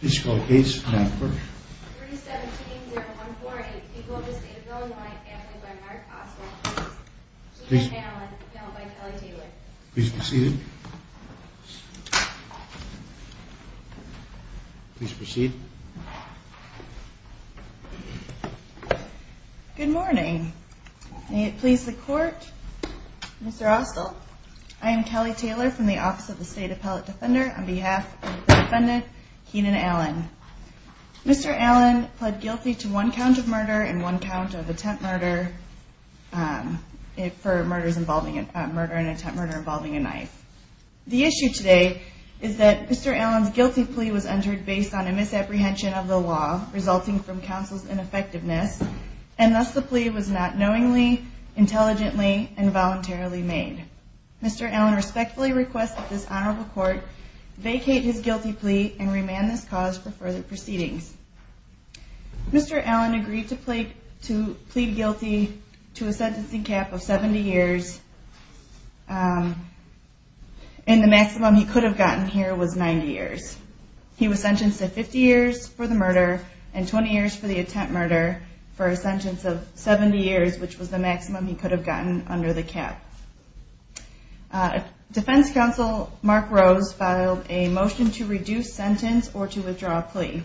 Good morning. May it please the court. Mr. Austell, I am Kelly Taylor from the Office of the State Appellate Defender. On behalf of the defendant, I would like to ask you to please stand and be recognized. Keenan Allen. Mr. Allen pled guilty to one count of murder and one count of attempt murder for murders involving a knife. The issue today is that Mr. Allen's guilty plea was entered based on a misapprehension of the law, resulting from counsel's ineffectiveness, and thus the plea was not knowingly, intelligently, and voluntarily made. Mr. Allen respectfully requests that this honorable court vacate his guilty plea and remove him from the case. Mr. Allen agreed to plead guilty to a sentencing cap of 70 years, and the maximum he could have gotten here was 90 years. He was sentenced to 50 years for the murder and 20 years for the attempt murder for a sentence of 70 years, which was the maximum he could have gotten under the cap. Defense counsel Mark Rose filed a motion to reduce sentence or to withdraw a plea.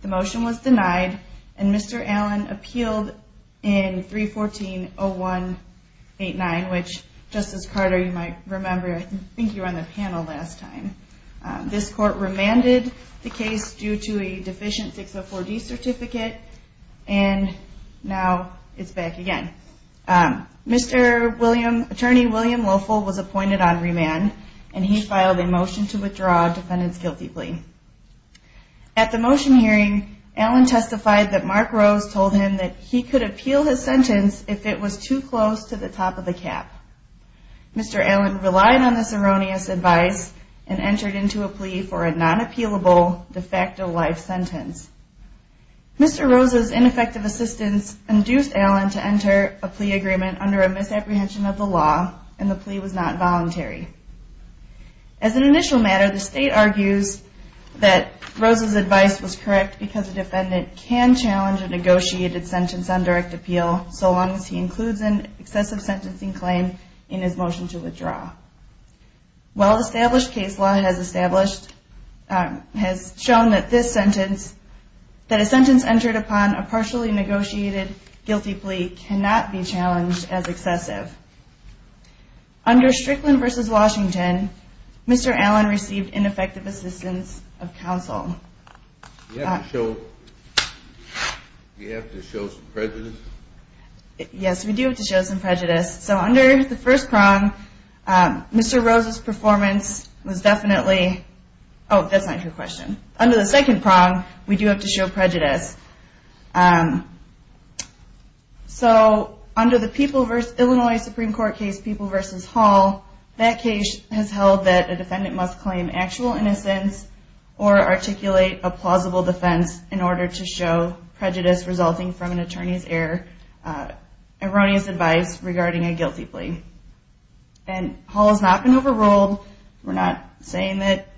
The motion was denied, and Mr. Allen appealed in 314-0189, which Justice Carter, you might remember, I think you were on the panel last time. This court remanded the case due to a deficient 604D certificate, and now it's back again. Mr. William, Attorney William Loeffel was appointed on remand, and he filed a motion to withdraw a defendant's guilty plea. At the motion hearing, Allen testified that Mark Rose told him that he could appeal his sentence if it was too close to the top of the cap. Mr. Allen relied on this erroneous advice and entered into a plea for a non-appealable, de facto life sentence. Mr. Rose's ineffective assistance induced Allen to enter a plea agreement under a misapprehension of the law, and the plea was not voluntary. As an initial matter, the state argues that Rose's advice was correct because a defendant can challenge a negotiated sentence on direct appeal so long as he includes an excessive sentencing claim in his motion to withdraw. Well-established case law has shown that a sentence entered upon a partially negotiated guilty plea cannot be challenged as excessive. Under Strickland v. Washington, Mr. Allen received ineffective assistance of counsel. Do you have to show some prejudice? Hall has not been overruled. We're not saying that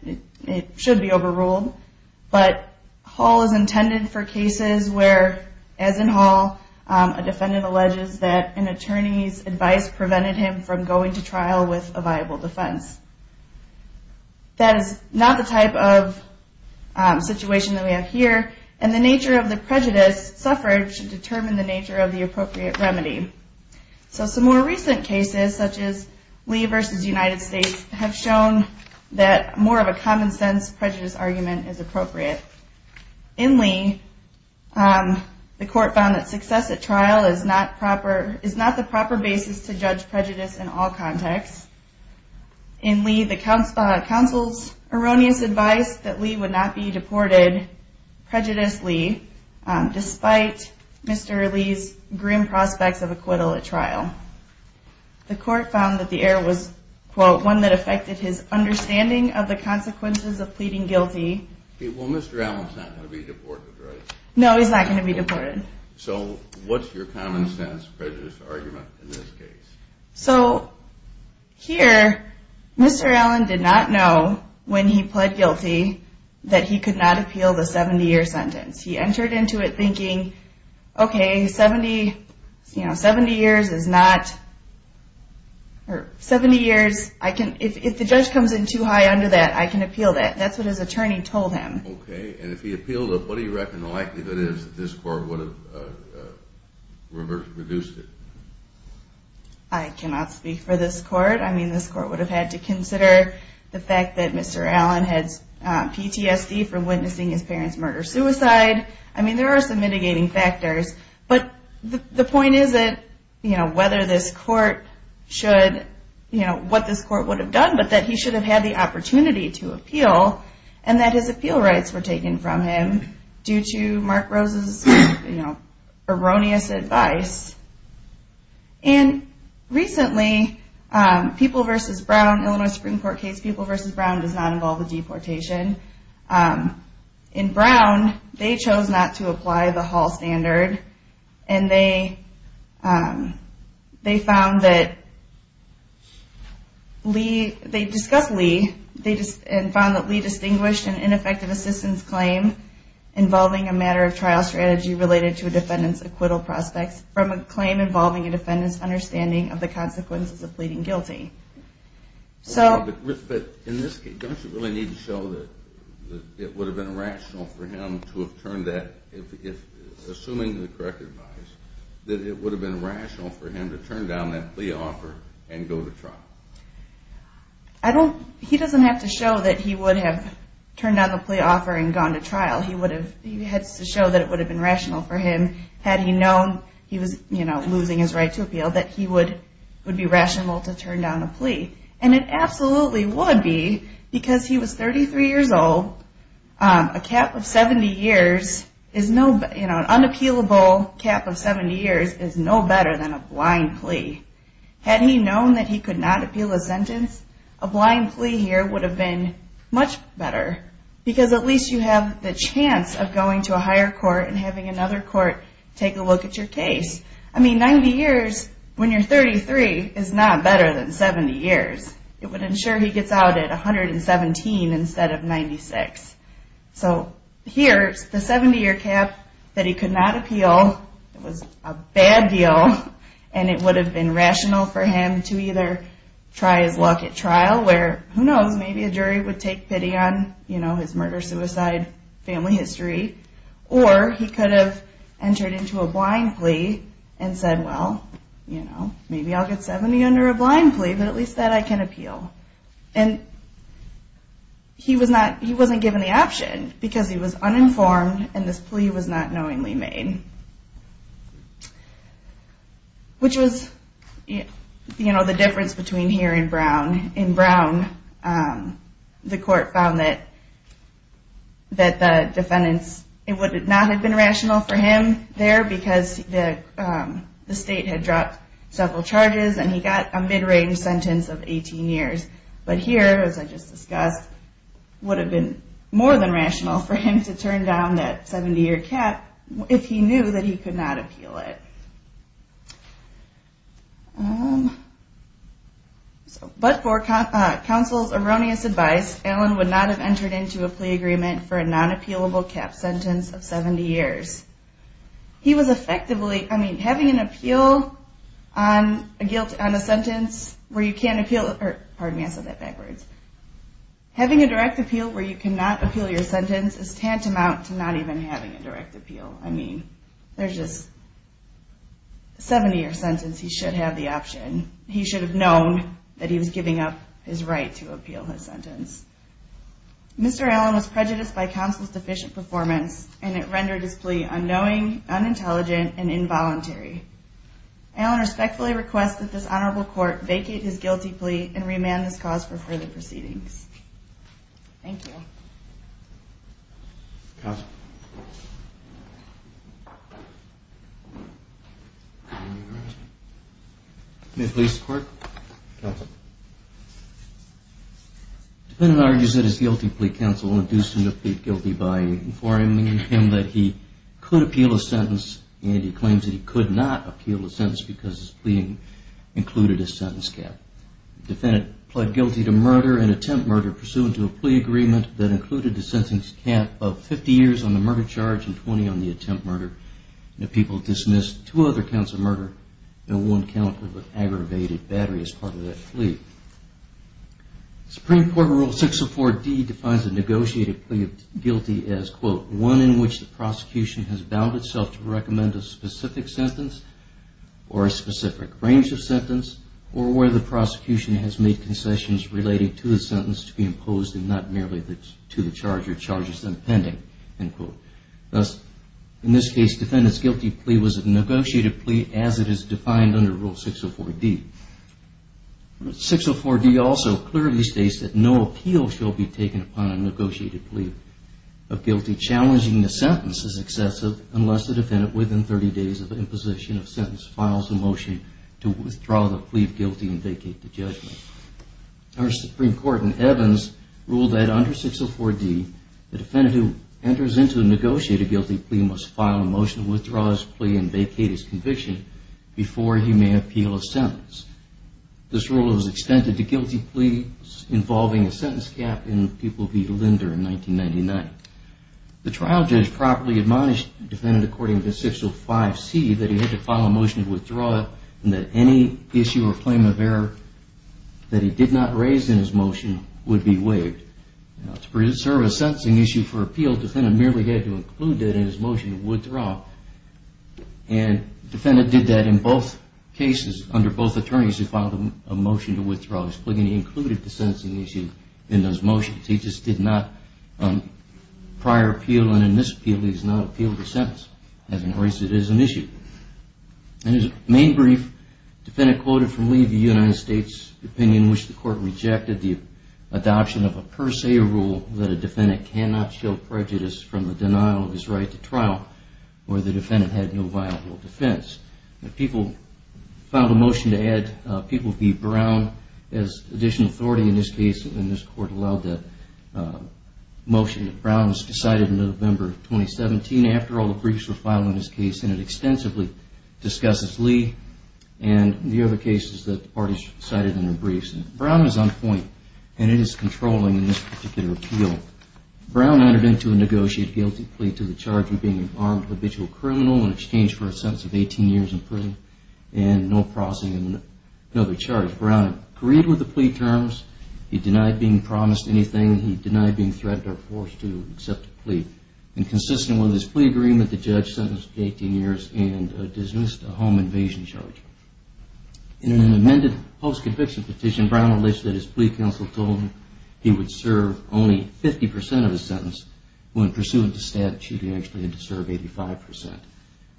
it should be overruled, but Hall is intended for cases where, as in Hall, a defendant alleges that an attorney's advice prevented him from going to trial with a viable defense. That is not the type of situation that we have here, and the nature of the prejudice suffered should determine the nature of the appropriate remedy. Some more recent cases, such as Lee v. United States, have shown that more of a common-sense prejudice argument is appropriate. In Lee, the court found that success at trial is not the proper basis to judge prejudice in all contexts. In Lee, the counsel's erroneous advice that Lee would not be deported prejudiced Lee, despite Mr. Lee's grim prospects of acquittal at trial. The court found that the error was, quote, one that affected his understanding of the consequences of pleading guilty. Well, Mr. Allen's not going to be deported, right? No, he's not going to be deported. So, what's your common-sense prejudice argument in this case? So, here, Mr. Allen did not know, when he pled guilty, that he could not appeal the 70-year sentence. He entered into it thinking, okay, 70 years is not... 70 years, if the judge comes in too high under that, I can appeal that. That's what his attorney told him. Okay, and if he appealed it, what do you reckon the likelihood is that this court would have reduced it? I cannot speak for this court. I mean, this court would have had to consider the fact that Mr. Allen has PTSD from witnessing his parents' murder-suicide. I mean, there are some mitigating factors, but the point is that, you know, whether this court should, you know, what this court would have done, but that he should have had the opportunity to appeal, and that his appeal rights were taken from him due to Mark Rose's, you know, erroneous advice. And, recently, People v. Brown, Illinois Supreme Court case People v. Brown does not involve a deportation. In Brown, they chose not to apply the Hall standard, and they found that Lee, they discussed Lee, and found that Lee distinguished an ineffective assistance claim involving a matter of trial strategy related to a defendant's acquittal prospects from a claim involving a defendant's understanding of the consequences of pleading guilty. But, in this case, don't you really need to show that it would have been rational for him to have turned that, assuming the correct advice, that it would have been rational for him to turn down that plea offer and go to trial? I don't, he doesn't have to show that he would have turned down the plea offer and gone to trial. He would have, he has to show that it would have been rational for him, had he known he was, you know, losing his right to appeal, that he would be rational to turn down a plea. And it absolutely would be, because he was 33 years old, a cap of 70 years is no, you know, an unappealable cap of 70 years is no better than a blind plea. Had he known that he could not appeal a sentence, a blind plea here would have been much better, because at least you have the chance of going to a higher court and having another court take a look at your case. I mean, 90 years, when you're 33, is not better than 70 years. It would ensure he gets out at 117 instead of 96. So here, the 70-year cap that he could not appeal was a bad deal, and it would have been rational for him to either try his luck at trial, where, who knows, maybe a jury would take pity on, you know, his murder-suicide family history, or he could have entered into a blind plea and said, well, you know, maybe I'll get 70 under a blind plea, but at least that I can appeal. And he was not, he wasn't given the option, because he was uninformed, and this plea was not knowingly made, which was, you know, the difference between here and Brown. In Brown, the court found that the defendants, it would not have been rational for him there, because the state had dropped several charges, and he got a mid-range sentence of 18 years. But here, as I just discussed, would have been more than rational for him to turn down that 70-year cap if he knew that he could not appeal it. But for counsel's erroneous advice, Allen would not have entered into a plea agreement for a non-appealable cap sentence of 70 years. He was effectively, I mean, having an appeal on a sentence where you can't appeal, or, pardon me, I said that backwards. Having a direct appeal where you cannot appeal your sentence is tantamount to not even having a direct appeal. I mean, there's just, 70-year sentence, he should have the option. He should have known that he was giving up his right to appeal his sentence. Mr. Allen was prejudiced by counsel's deficient performance, and it rendered his plea unknowing, unintelligent, and involuntary. Allen respectfully requests that this honorable court vacate his guilty plea and remand this cause for further proceedings. Thank you. Counsel. May it please the court. Counsel. The defendant argues that his guilty plea counsel induced him to plead guilty by informing him that he could appeal a sentence, and he claims that he could not appeal a sentence because his pleading included a sentence cap. The defendant pled guilty to murder and attempt murder pursuant to a plea agreement that included a sentence cap of 50 years on the murder charge and 20 on the attempt murder. The people dismissed two other counts of murder and one count of aggravated battery as part of that plea. Supreme Court Rule 604D defines a negotiated plea of guilty as, quote, prosecution has made concessions related to the sentence to be imposed and not merely to the charge or charges impending, end quote. Thus, in this case, defendant's guilty plea was a negotiated plea as it is defined under Rule 604D. Rule 604D also clearly states that no appeal shall be taken upon a negotiated plea of guilty challenging the sentence as excessive unless the defendant within 30 days of imposition of sentence files a motion to withdraw the plea of guilty and vacate the judgment. Our Supreme Court in Evans ruled that under 604D, the defendant who enters into a negotiated guilty plea must file a motion to withdraw his plea and vacate his conviction before he may appeal a sentence. This rule was extended to guilty pleas involving a sentence cap in People v. Linder in 1999. The trial judge properly admonished the defendant according to 605C that he had to file a motion to withdraw it and that any issue or claim of error that he did not raise in his motion would be waived. To preserve a sentencing issue for appeal, defendant merely had to include it in his motion to withdraw. And defendant did that in both cases under both attorneys who filed a motion to withdraw his plea and he included the sentencing issue in those motions. He just did not, prior appeal and in this appeal, he has not appealed the sentence. As in a race, it is an issue. In his main brief, defendant quoted from leave the United States opinion in which the court rejected the adoption of a per se rule that a defendant cannot show prejudice from the denial of his right to trial where the defendant had no viable defense. People filed a motion to add People v. Brown as additional authority in this case and this court allowed that motion. Brown was decided in November of 2017 after all the briefs were filed in this case and it extensively discusses Lee and the other cases that the parties cited in their briefs. Brown is on point and it is controlling in this particular appeal. Brown entered into a negotiated guilty plea to the charge of being an armed habitual criminal in exchange for a sentence of 18 years in prison and no processing of another charge. Brown agreed with the plea terms. He denied being promised anything. He denied being threatened or forced to accept a plea. And consistent with his plea agreement, the judge sentenced him to 18 years and dismissed a home invasion charge. In an amended post-conviction petition, Brown alleged that his plea counsel told him he would serve only 50% of his sentence when pursuant to statute he actually had to serve 85%.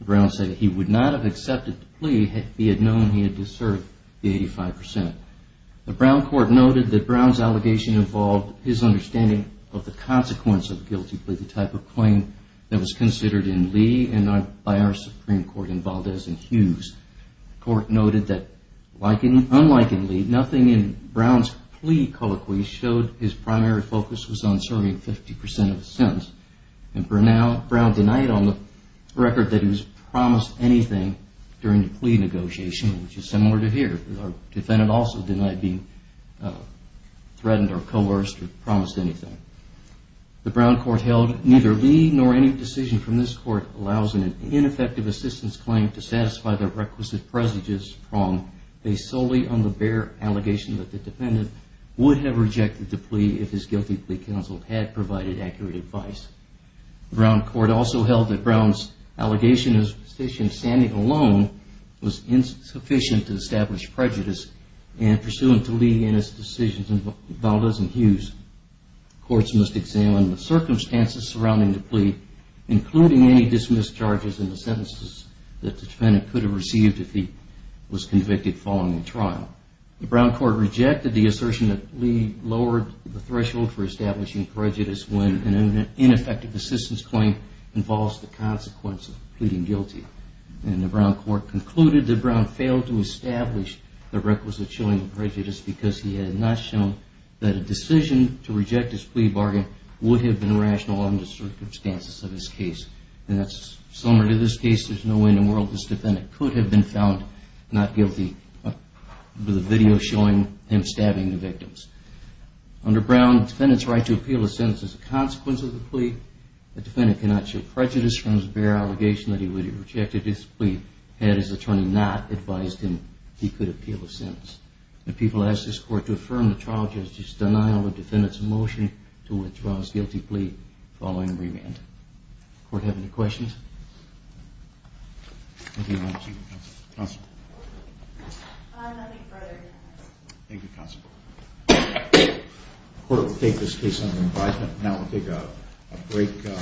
Brown said he would not have accepted the plea had he known he had to serve the 85%. The Brown court noted that Brown's allegation involved his understanding of the consequence of a guilty plea, the type of claim that was considered in Lee and not by our Supreme Court in Valdez and Hughes. The court noted that unlike in Lee, nothing in Brown's plea colloquy showed his primary focus was on serving 50% of his sentence. And for now, Brown denied on the record that he was promised anything during the plea negotiation, which is similar to here. Our defendant also denied being threatened or coerced or promised anything. The Brown court held neither Lee nor any decision from this court allows an ineffective assistance claim to satisfy the requisite prejudice prong based solely on the bare allegation that the defendant would have rejected the plea if his guilty plea counsel had provided accurate advice. The Brown court also held that Brown's allegation in his petition standing alone was insufficient to establish prejudice and pursuant to Lee and his decisions in Valdez and Hughes. Courts must examine the circumstances surrounding the plea, including any dismissed charges in the sentences that the defendant could have received if he was convicted following the trial. The Brown court rejected the assertion that Lee lowered the threshold for establishing prejudice when an ineffective assistance claim involves the consequence of pleading guilty. And the Brown court concluded that Brown failed to establish the requisite showing of prejudice because he had not shown that a decision to reject his plea bargain would have been rational under the circumstances of his case. And that's similar to this case. There's no way in the world this defendant could have been found not guilty with a video showing him stabbing the victims. Under Brown, the defendant's right to appeal a sentence is a consequence of the plea. The defendant cannot show prejudice from his bare allegation that he would have rejected his plea The people ask this court to affirm the trial judge's denial of the defendant's motion to withdraw his guilty plea following remand. Does the court have any questions? Thank you, Your Honor. Thank you, Counsel. Nothing further. Thank you, Counsel. The court will take this case under advisement. Now we'll take a break.